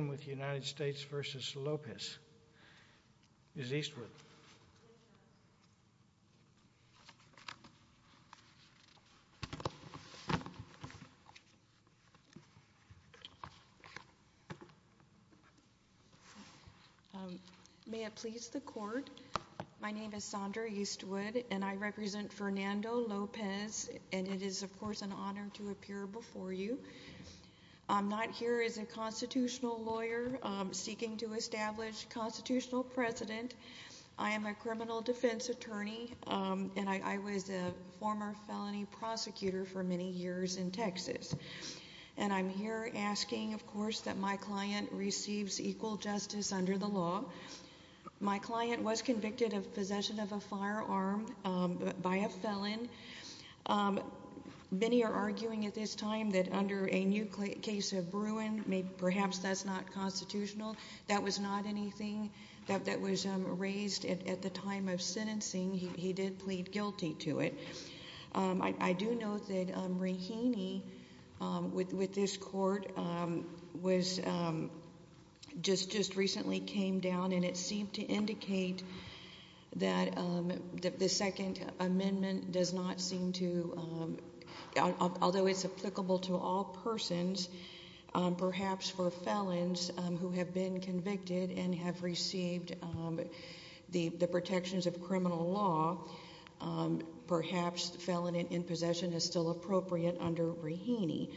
May it please the court, my name is Sondra Eastwood and I represent Fernando Lopez and it is of course an honor to appear before you. I'm not here as a constitutional lawyer seeking to establish constitutional precedent. I am a criminal defense attorney and I was a former felony prosecutor for many years in Texas and I'm here asking of course that my client receives equal justice under the law. My client was convicted of possession of a firearm by a felon. Many are arguing at this time that under a new case of Bruin, perhaps that's not constitutional. That was not anything that was raised at the time of sentencing. He did plead guilty to it. I do note that this court was just recently came down and it seemed to indicate that the second amendment does not seem to, although it's applicable to all persons, perhaps for felons who have been convicted and have received the protections of criminal law, perhaps felon in possession is still appropriate under Bruhini.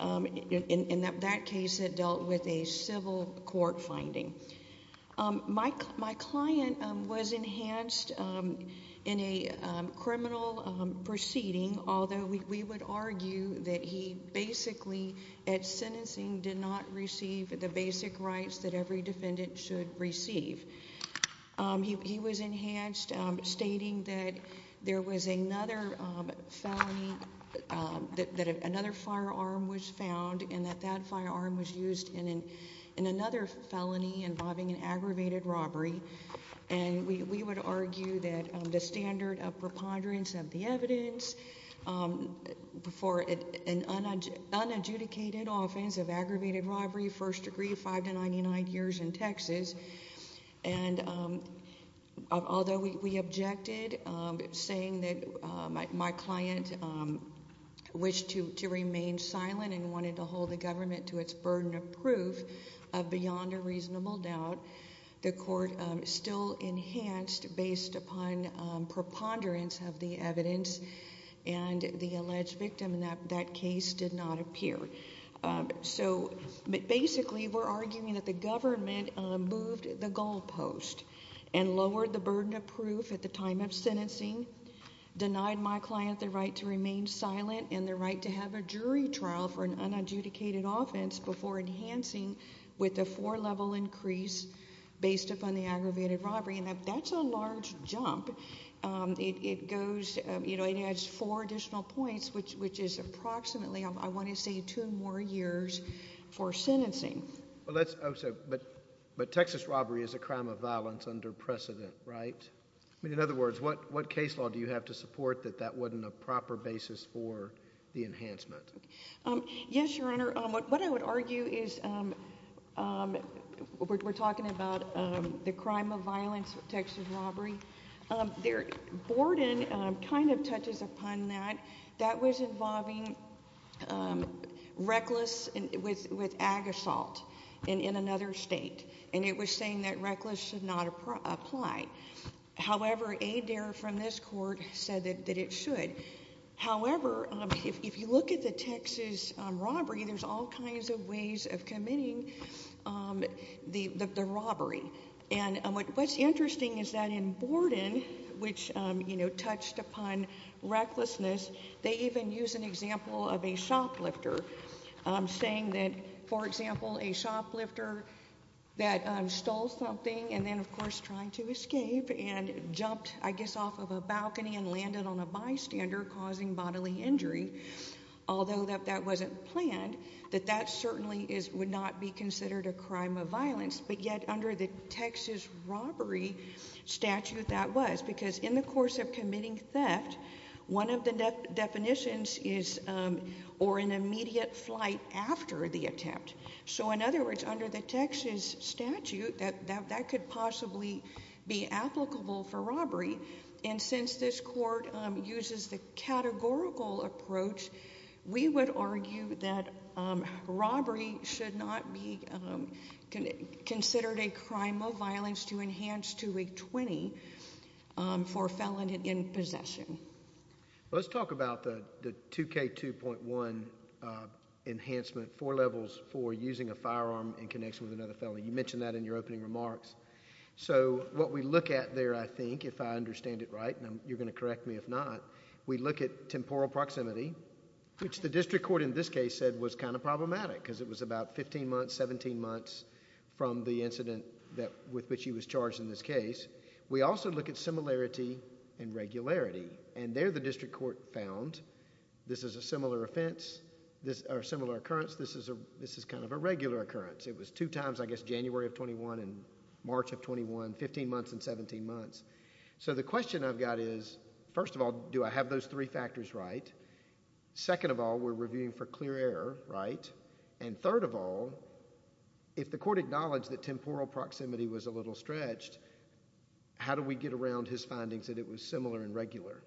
In that case it dealt with a civil court finding. My client was enhanced in a criminal proceeding although we would argue that he basically at sentencing did not receive the basic rights that every defendant should receive. He was enhanced stating that there was another felony, that another firearm was found and that that firearm was used in another felony involving an aggravated robbery and we would argue that the standard of preponderance of the evidence for an unadjudicated offense of aggravated robbery, first degree, 5 to 99 years in Texas, and although we objected saying that my client wished to remain silent and wanted to hold the government to its burden of proof beyond a reasonable doubt, the court still enhanced based upon preponderance of the evidence and the alleged victim in that case did not appear. So basically we're arguing that the government moved the goalpost and lowered the burden of proof at the time of sentencing, denied my client the right to remain silent and the right to have a jury trial for an unadjudicated offense before enhancing with a four level increase based upon the aggravated robbery and that's a large jump. It goes, you know, it adds four additional points which is approximately, I want to say, two more years for sentencing. But Texas robbery is a crime of violence under precedent, right? In other words, what case law do you have to support that that wasn't a proper basis for the enhancement? Yes, Your Honor. What I would argue is we're talking about the crime of violence with Texas robbery. Their boarding kind of touches upon that. That was involving reckless with ag assault in another state and it was saying that reckless should not apply. However, a dare from this court said that it should. However, if you look at the Texas robbery, there's all kinds of ways of committing the robbery. And what's interesting is that in Borden, which, you know, touched upon recklessness, they even use an example of a shoplifter saying that, for example, if a shoplifter fell off of a balcony and landed on a bystander causing bodily injury, although that wasn't planned, that that certainly would not be considered a crime of violence. But yet, under the Texas robbery statute, that was. Because in the course of committing theft, one of the definitions is or an immediate flight after the attempt. So in other words, under the Texas statute, that could possibly be applicable for robbery. And since this court uses the categorical approach, we would argue that robbery should not be considered a crime of violence to enhance to a 20 for felon in possession. Let's talk about the 2K2.1 enhancement, four levels for using a firearm in connection with another felon. You mentioned that in your opening remarks. So what we look at there, I think, if I understand it right, and you're going to correct me if not, we look at temporal proximity, which the district court in this case said was kind of problematic because it was about 15 months, 17 months from the incident that with which he was charged in this case. We also look at similarity and regularity. And there the district court found this is a similar offense, this are similar occurrence. This is a this is kind of a regular occurrence. It was two times, I guess, January of 21 and March of 21, 15 months and 17 months. So the question I've got is, first of all, do I have those three factors right? Second of all, we're reviewing for clear air, right? And third of all, if the court acknowledged that temporal proximity was a little stretched, how do we get around his findings that it was similar and regular?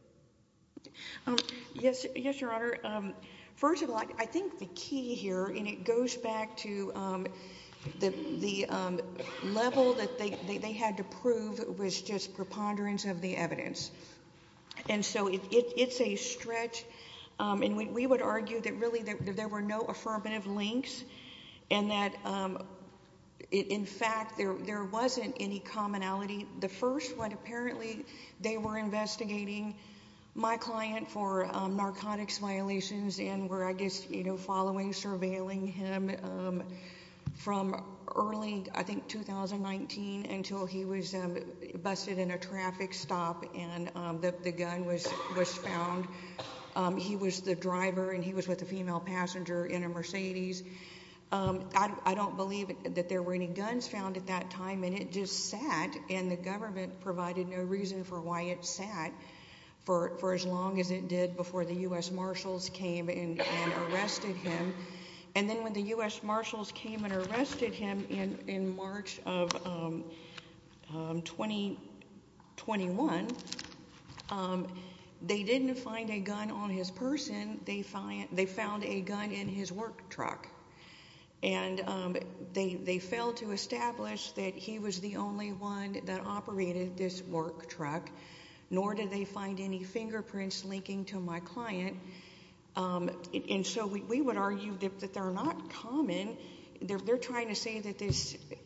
Yes. Yes, Your Honor. First of all, I think the key here and it goes back to the level that they had to prove was just preponderance of the evidence. And so it's a stretch. And we would argue that really there were no affirmative links and that, in fact, there wasn't any commonality. The first one, apparently they were investigating my client for narcotics violations and were, I guess, you know, following, surveilling him from early, I think, 2019 until he was busted in a traffic stop and the gun was found. He was the driver and he was with a female passenger in a Mercedes. I don't believe that there were any guns found at that time and it just sat and the 20, 21. They didn't find a gun on his person. They find they found a gun in his work truck and they failed to establish that he was the only one that operated this work truck, nor did they find any evidence of any other gun. And so, I think the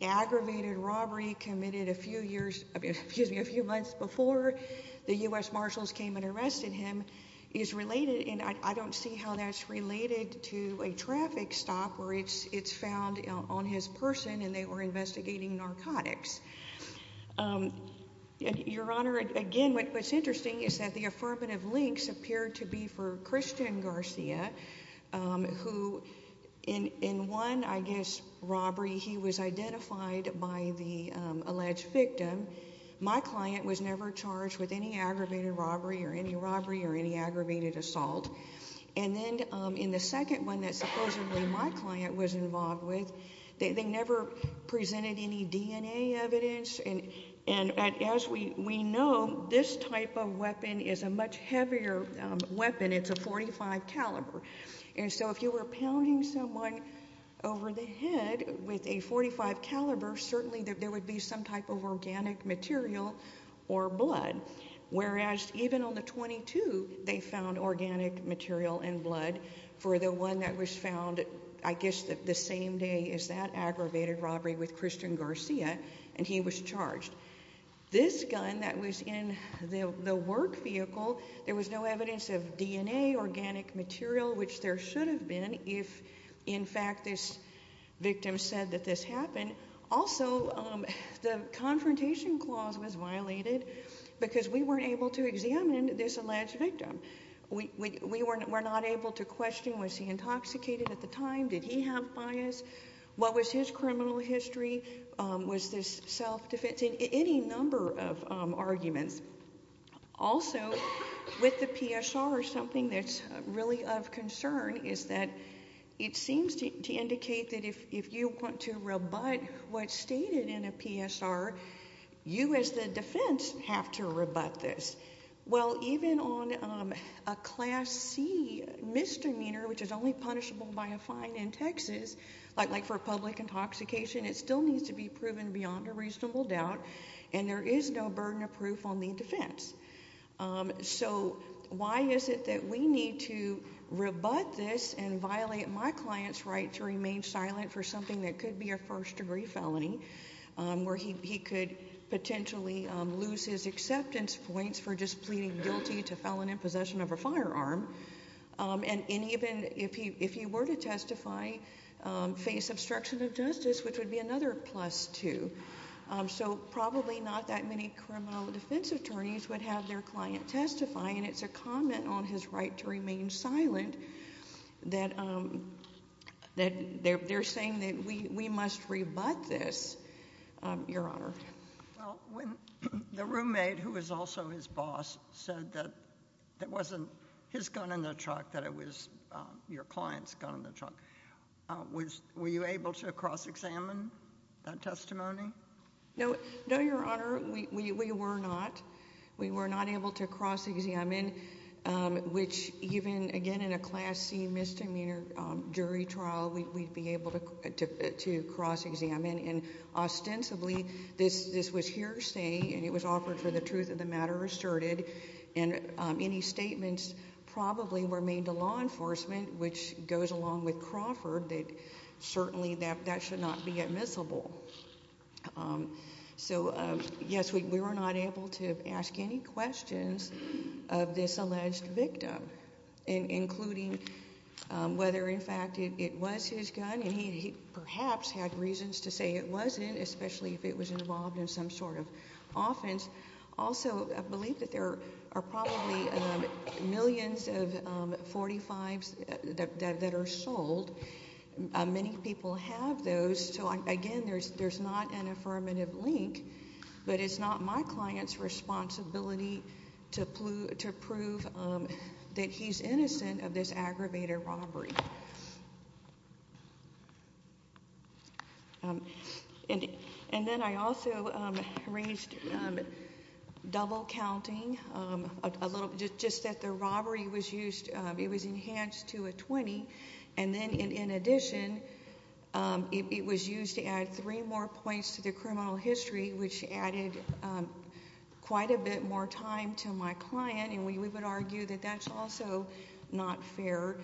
fact that a robbery committed a few years, excuse me, a few months before the U.S. Marshals came and arrested him is related. And I don't see how that's related to a traffic stop where it's found on his person and they were investigating narcotics. Your Honor, again, what's interesting is that the affirmative links appeared to be for Christian Garcia, who in one, I guess, robbery, he was identified by the FBI. And then in the second one, the alleged victim, my client was never charged with any aggravated robbery or any robbery or any aggravated assault. And then in the second one that supposedly my client was involved with, they never presented any DNA evidence. And as we know, this type of weapon is a much heavier weapon. It's a .45 caliber. And so, if you were pounding someone over the head with a .45 caliber, certainly there would be some type of organic material or blood, whereas even on the 22, they found organic material and blood for the one that was found, I guess, the same day as that aggravated robbery with Christian Garcia. And he was charged. This gun that was in the work vehicle, there was no evidence of DNA, organic material, which there should have been if, in fact, this victim said that this happened. And also, the confrontation clause was violated because we weren't able to examine this alleged victim. We were not able to question, was he intoxicated at the time? Did he have bias? What was his criminal history? Was this self-defense? Any number of arguments. Also, with the PSR, something that's really of concern is that it seems to indicate that if you want to rebut what's stated in a PSR, you as the defense have to rebut this. Well, even on a Class C misdemeanor, which is only punishable by a fine in Texas, like for public intoxication, it still needs to be proven beyond a reasonable doubt, and there is no burden of proof on the defense. So, why is it that we need to rebut this and violate my client's right to remain silent for something that could be a first-degree felony, where he could potentially lose his acceptance points for just pleading guilty to felon in possession of a firearm, and even if he were to testify, face obstruction of justice, which would be another plus, too. So, probably not that many criminal defense attorneys would have their client testify, and it's a comment on his right to remain silent that they're saying that we must rebut this, Your Honor. Well, when the roommate, who was also his boss, said that it wasn't his gun in the truck, that it was your client's gun in the truck, were you able to cross-examine that testimony? No, Your Honor. We were not. We were not able to cross-examine, which even, again, in a Class C misdemeanor jury trial, we'd be able to cross-examine. And, ostensibly, this was hearsay, and it was offered for the truth of the matter asserted, and any statements probably were made to law enforcement, which goes along with Crawford, that certainly that should not be admissible. So, yes, we were not able to ask any questions of this alleged victim, including whether, in fact, it was his gun, and he perhaps had reasons to say it wasn't, especially if it was involved in some sort of offense. Also, I believe that there are probably millions of .45s that are sold. Many people have those. So, again, there's not an affirmative link, but it's not my client's responsibility to prove that he's innocent of this aggravated robbery. And then I also raised double counting, just that the robbery was used, it was enhanced to a 20, and then, in addition, it was used to add three more points to the criminal history, which added quite a bit more time to my client. And we would argue that that's also not fair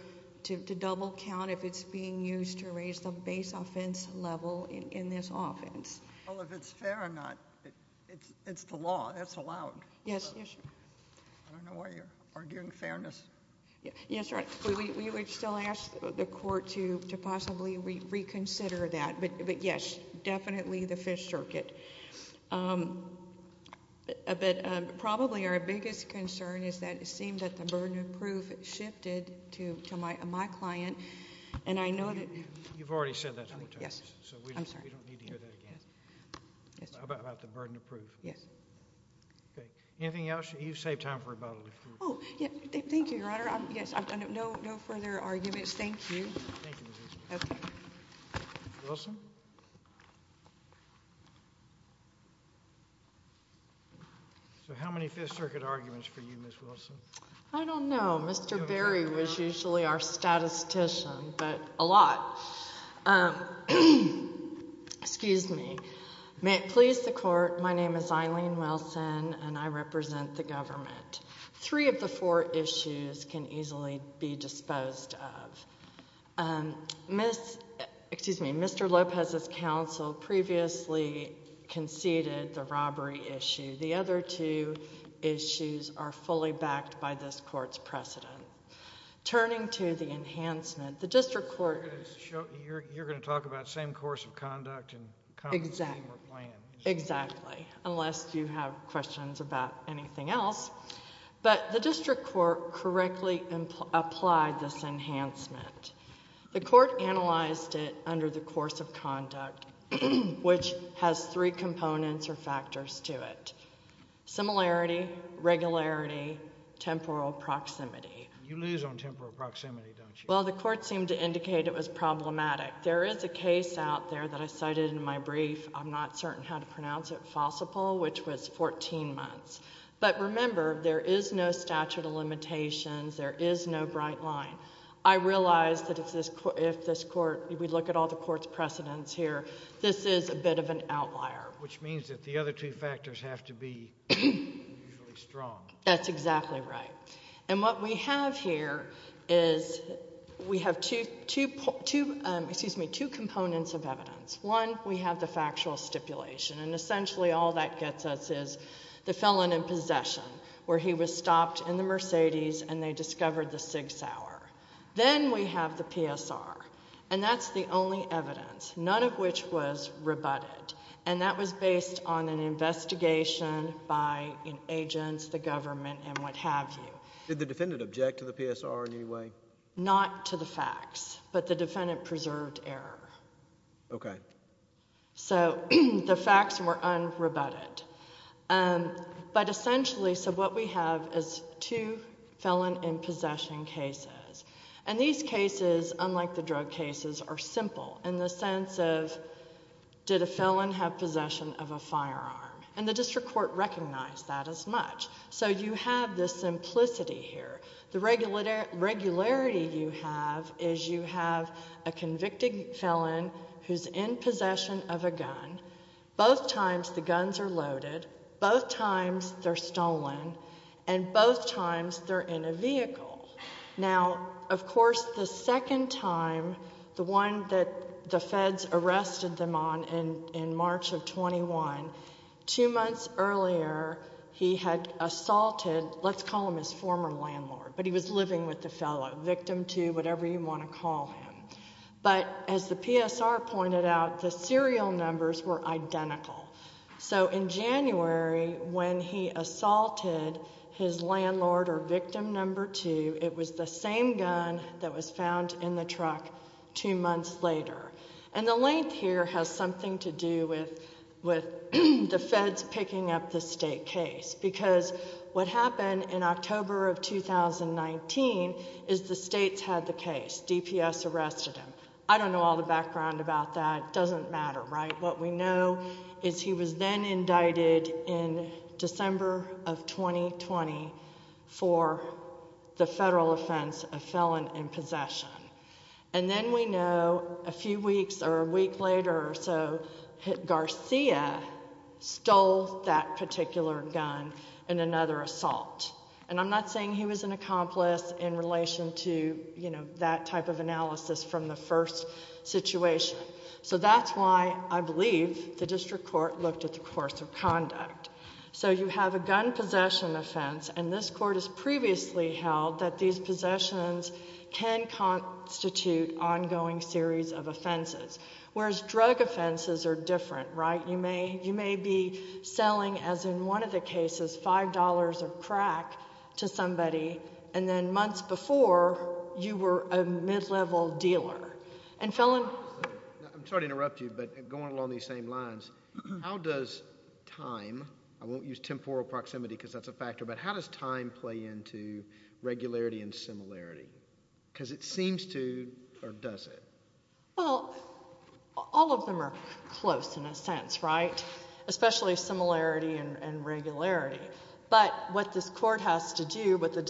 to double count if it's being used to raise the base offense level in this offense. Well, if it's fair or not, it's the law. That's allowed. Yes, yes. I don't know why you're arguing fairness. Yes, right. We would still ask the court to possibly reconsider that. But, yes, definitely the Fifth Circuit. But probably our biggest concern is that it seemed that the burden of proof shifted to my client, and I know that... You've already said that four times, so we don't need to hear that again. Yes, I'm sorry. About the burden of proof. Yes. Okay. Anything else? You've saved time for rebuttal. Oh, thank you, Your Honor. Yes, no further arguments. Thank you. Thank you, Ms. Eastman. Okay. Wilson? So, how many Fifth Circuit arguments for you, Ms. Wilson? I don't know. Mr. Berry was usually our statistician, but a lot. Excuse me. May it please the Court, my name is Eileen Wilson, and I represent the government. Three of the four issues can easily be disposed of. Excuse me. Mr. Lopez's counsel previously conceded the robbery issue. The other two issues are fully backed by this Court's precedent. Turning to the enhancement, the district court... You're going to talk about same course of conduct and compensation for plans. Exactly. Unless you have questions about anything else. But the district court correctly applied this enhancement. The Court analyzed it under the course of conduct, which has three components or factors to it. Similarity, regularity, temporal proximity. You lose on temporal proximity, don't you? Well, the Court seemed to indicate it was problematic. There is a case out there that I cited in my brief. I'm not certain how to pronounce it, Fossapol, which was fourteen months. But remember, there is no statute of limitations. There is no bright line. I realize that if this Court... if we look at all the Court's precedents here, this is a bit of an outlier. Which means that the other two factors have to be usually strong. That's exactly right. And what we have here is... we have two components of evidence. One, we have the factual stipulation. And essentially all that gets us is the felon in possession, where he was stopped in the Mercedes and they discovered the Sig Sauer. Then we have the PSR. And that's the only evidence, none of which was rebutted. And that was based on an investigation by agents, the government, and what have you. Did the defendant object to the PSR in any way? Not to the facts, but the defendant preserved error. Okay. So the facts were unrebutted. But essentially, so what we have is two felon in possession cases. And these cases, unlike the drug cases, are simple in the sense of, did a felon have possession of a firearm? And the District Court recognized that as much. So you have this simplicity here. The regularity you have is you have a convicted felon who's in possession of a gun. Both times the guns are loaded. Both times they're stolen. And both times they're in a vehicle. Now, of course, the second time, the one that the feds arrested them on in March of 21, two months earlier he had assaulted, let's call him his former landlord, but he was living with the felon, victim two, whatever you want to call him. But as the PSR pointed out, the serial numbers were identical. So in January, when he assaulted his landlord or victim number two, it was the same gun that was found in the truck two months later. And the length here has something to do with the feds picking up the state case. Because what happened in October of 2019 is the states had the case. DPS arrested him. I don't know all the background about that. It doesn't matter, right? What we know is he was then indicted in December of 2020 for the federal offense of felon in possession. And then we know a few weeks or a week later or so Garcia stole that particular gun in another assault. And I'm not saying he was an accomplice in relation to, you know, that type of analysis from the first situation. So that's why I believe the district court looked at the course of conduct. So you have a gun possession offense, and this court has previously held that these possessions can constitute ongoing series of offenses. Whereas drug offenses are different, right? You may be selling, as in one of the cases, $5 of crack to somebody, and then months before you were a mid-level dealer. And felon... I'm sorry to interrupt you, but going along these same lines, how does time, I won't use temporal proximity because that's a factor, but how does time play into regularity and similarity? Because it seems to, or does it? Well, all of them are close in a sense, right? Especially similarity and regularity. But what this court has to do, what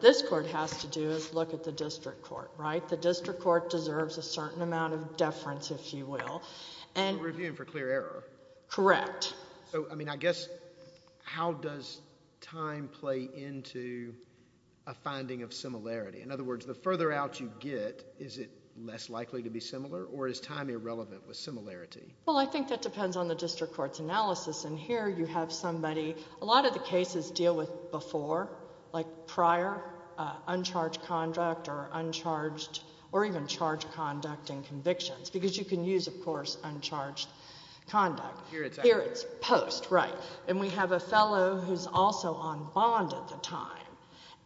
this court has to do is look at the district court, right? The district court deserves a certain amount of deference, if you will. Reviewing for clear error. Correct. So, I mean, I guess how does time play into a finding of similarity? In other words, the further out you get, is it less likely to be similar, or is time irrelevant with similarity? Well, I think that depends on the district court's analysis. And here you have somebody, a lot of the cases deal with before, like prior, uncharged conduct or uncharged, or even charged conduct and convictions, because you can use, of course, uncharged conduct. Here it's post. Here it's post, right. And we have a fellow who's also on bond at the time.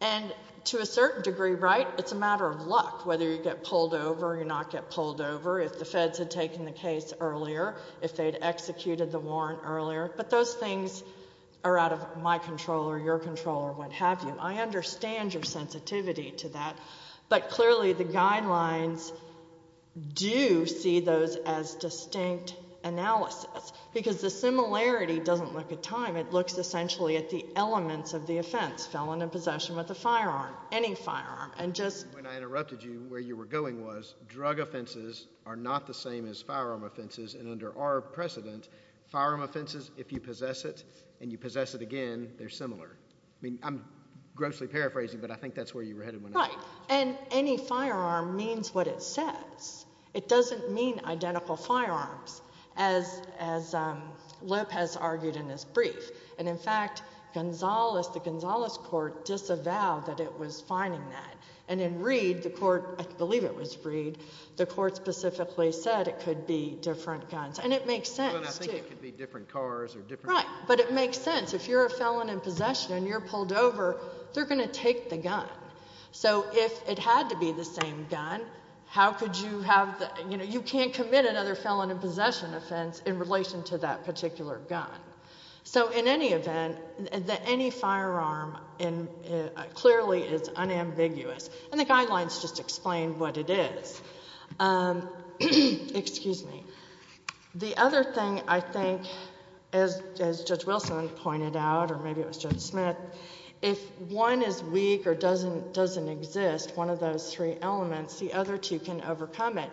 And to a certain degree, right, it's a matter of luck whether you get pulled over or you not get pulled over. If the feds had taken the case earlier, if they'd executed the warrant earlier. But those things are out of my control or your control or what have you. I understand your sensitivity to that. But clearly the guidelines do see those as distinct analysis. Because the similarity doesn't look at time. It looks essentially at the elements of the offense, felon in possession with a firearm, any firearm. When I interrupted you, where you were going was drug offenses are not the same as firearm offenses. And under our precedent, firearm offenses, if you possess it and you possess it again, they're similar. I mean, I'm grossly paraphrasing, but I think that's where you were headed when I asked. Right. And any firearm means what it says. It doesn't mean identical firearms, as Lopez argued in his brief. And, in fact, Gonzales, the Gonzales court disavowed that it was finding that. And in Reed, the court, I believe it was Reed, the court specifically said it could be different guns. And it makes sense, too. I think it could be different cars or different. Right. But it makes sense. If you're a felon in possession and you're pulled over, they're going to take the gun. So if it had to be the same gun, how could you have the, you know, you can't commit another felon in possession offense in relation to that particular gun. So in any event, any firearm clearly is unambiguous. And the guidelines just explain what it is. Excuse me. The other thing I think, as Judge Wilson pointed out, or maybe it was Judge Smith, if one is weak or doesn't exist, one of those three elements, the other two can overcome it.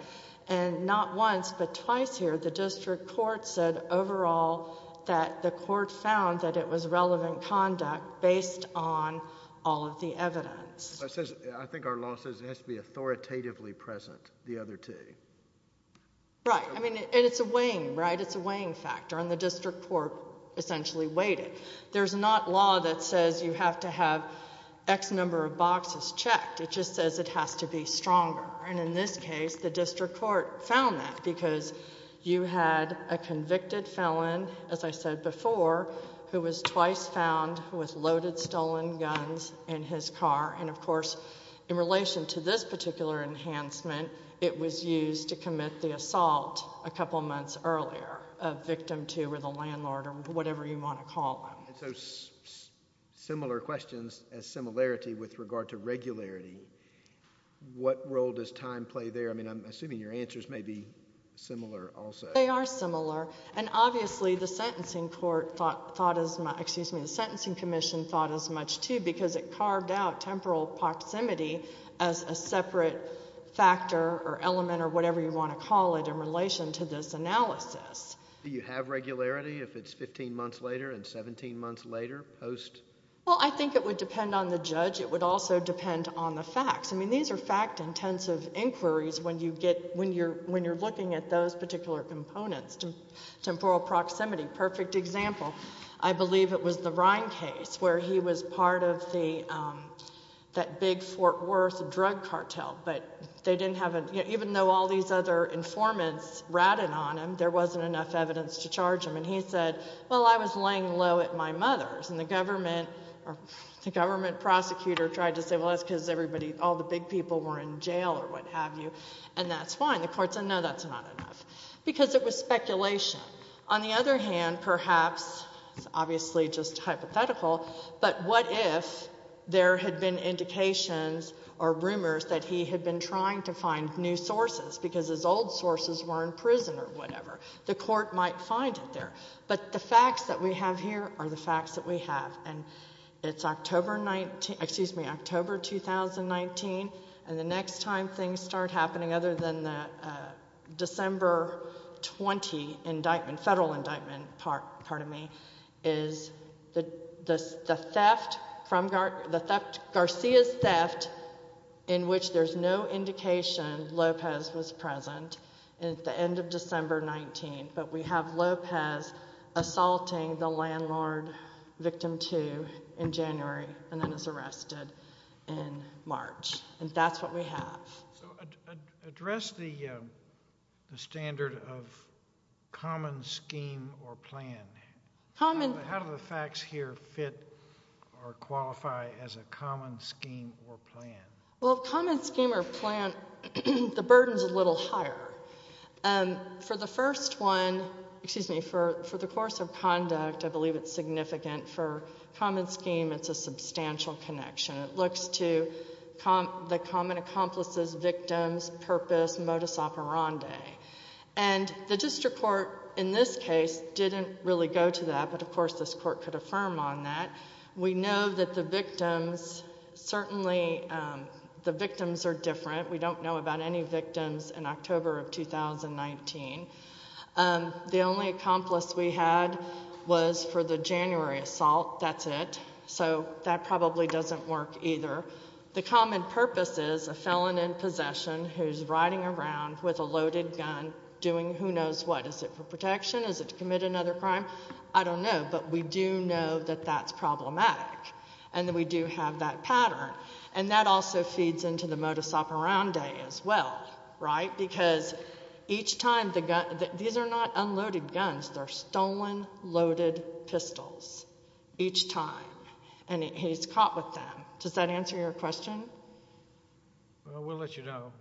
And not once, but twice here, the district court said overall that the court found that it was relevant conduct based on all of the evidence. I think our law says it has to be authoritatively present, the other two. Right. I mean, it's a weighing, right? It's a weighing factor. And the district court essentially weighed it. There's not law that says you have to have X number of boxes checked. It just says it has to be stronger. And in this case, the district court found that because you had a convicted felon, as I said before, who was twice found with loaded stolen guns in his car. And, of course, in relation to this particular enhancement, it was used to commit the assault a couple months earlier, a victim to or the landlord or whatever you want to call them. And so similar questions as similarity with regard to regularity. What role does time play there? I mean, I'm assuming your answers may be similar also. They are similar. And obviously the sentencing court thought as much—excuse me, the Sentencing Commission thought as much too because it carved out temporal proximity as a separate factor or element or whatever you want to call it in relation to this analysis. Do you have regularity if it's 15 months later and 17 months later post? Well, I think it would depend on the judge. It would also depend on the facts. I mean, these are fact-intensive inquiries when you get—when you're looking at those particular components. Temporal proximity, perfect example. I believe it was the Rhine case where he was part of that big Fort Worth drug cartel. But they didn't have a—even though all these other informants ratted on him, there wasn't enough evidence to charge him. And he said, well, I was laying low at my mother's. And the government prosecutor tried to say, well, that's because everybody—all the big people were in jail or what have you. And that's fine. The court said, no, that's not enough because it was speculation. On the other hand, perhaps—it's obviously just hypothetical, but what if there had been indications or rumors that he had been trying to find new sources because his old sources were in prison or whatever? The court might find it there. But the facts that we have here are the facts that we have. And it's October—excuse me, October 2019. And the next time things start happening other than the December 20 indictment, federal indictment, pardon me, is the theft, Garcia's theft, in which there's no indication Lopez was present at the end of December 19. But we have Lopez assaulting the landlord, victim two, in January and then is arrested in March. And that's what we have. So address the standard of common scheme or plan. How do the facts here fit or qualify as a common scheme or plan? Well, common scheme or plan, the burden's a little higher. For the first one—excuse me, for the course of conduct, I believe it's significant. For common scheme, it's a substantial connection. It looks to the common accomplice's victims, purpose, modus operandi. And the district court in this case didn't really go to that, but of course this court could affirm on that. We know that the victims—certainly the victims are different. We don't know about any victims in October of 2019. The only accomplice we had was for the January assault. That's it. So that probably doesn't work either. The common purpose is a felon in possession who's riding around with a loaded gun doing who knows what. Is it for protection? Is it to commit another crime? I don't know, but we do know that that's problematic and that we do have that pattern. And that also feeds into the modus operandi as well, right? Because each time—these are not unloaded guns. They're stolen, loaded pistols each time, and he's caught with them. Does that answer your question? Well, we'll let you know.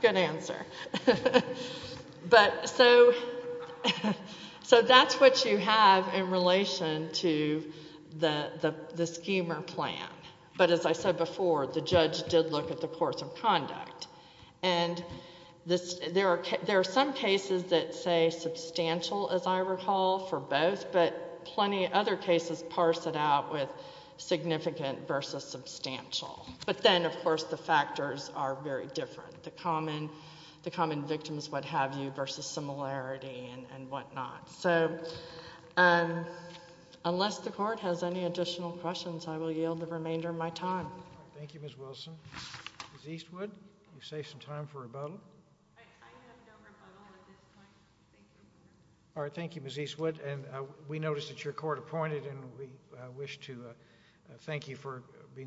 Good answer. So that's what you have in relation to the Schemer plan. But as I said before, the judge did look at the course of conduct. And there are some cases that say substantial, as I recall, for both, but plenty of other cases parse it out with significant versus substantial. But then, of course, the factors are very different. The common victims, what have you, versus similarity and whatnot. So unless the Court has any additional questions, I will yield the remainder of my time. Thank you, Ms. Wilson. Ms. Eastwood, you save some time for rebuttal. I have no rebuttal at this point. Thank you. All right. Thank you, Ms. Eastwood. And we notice that you're court-appointed, and we wish to thank you for being here.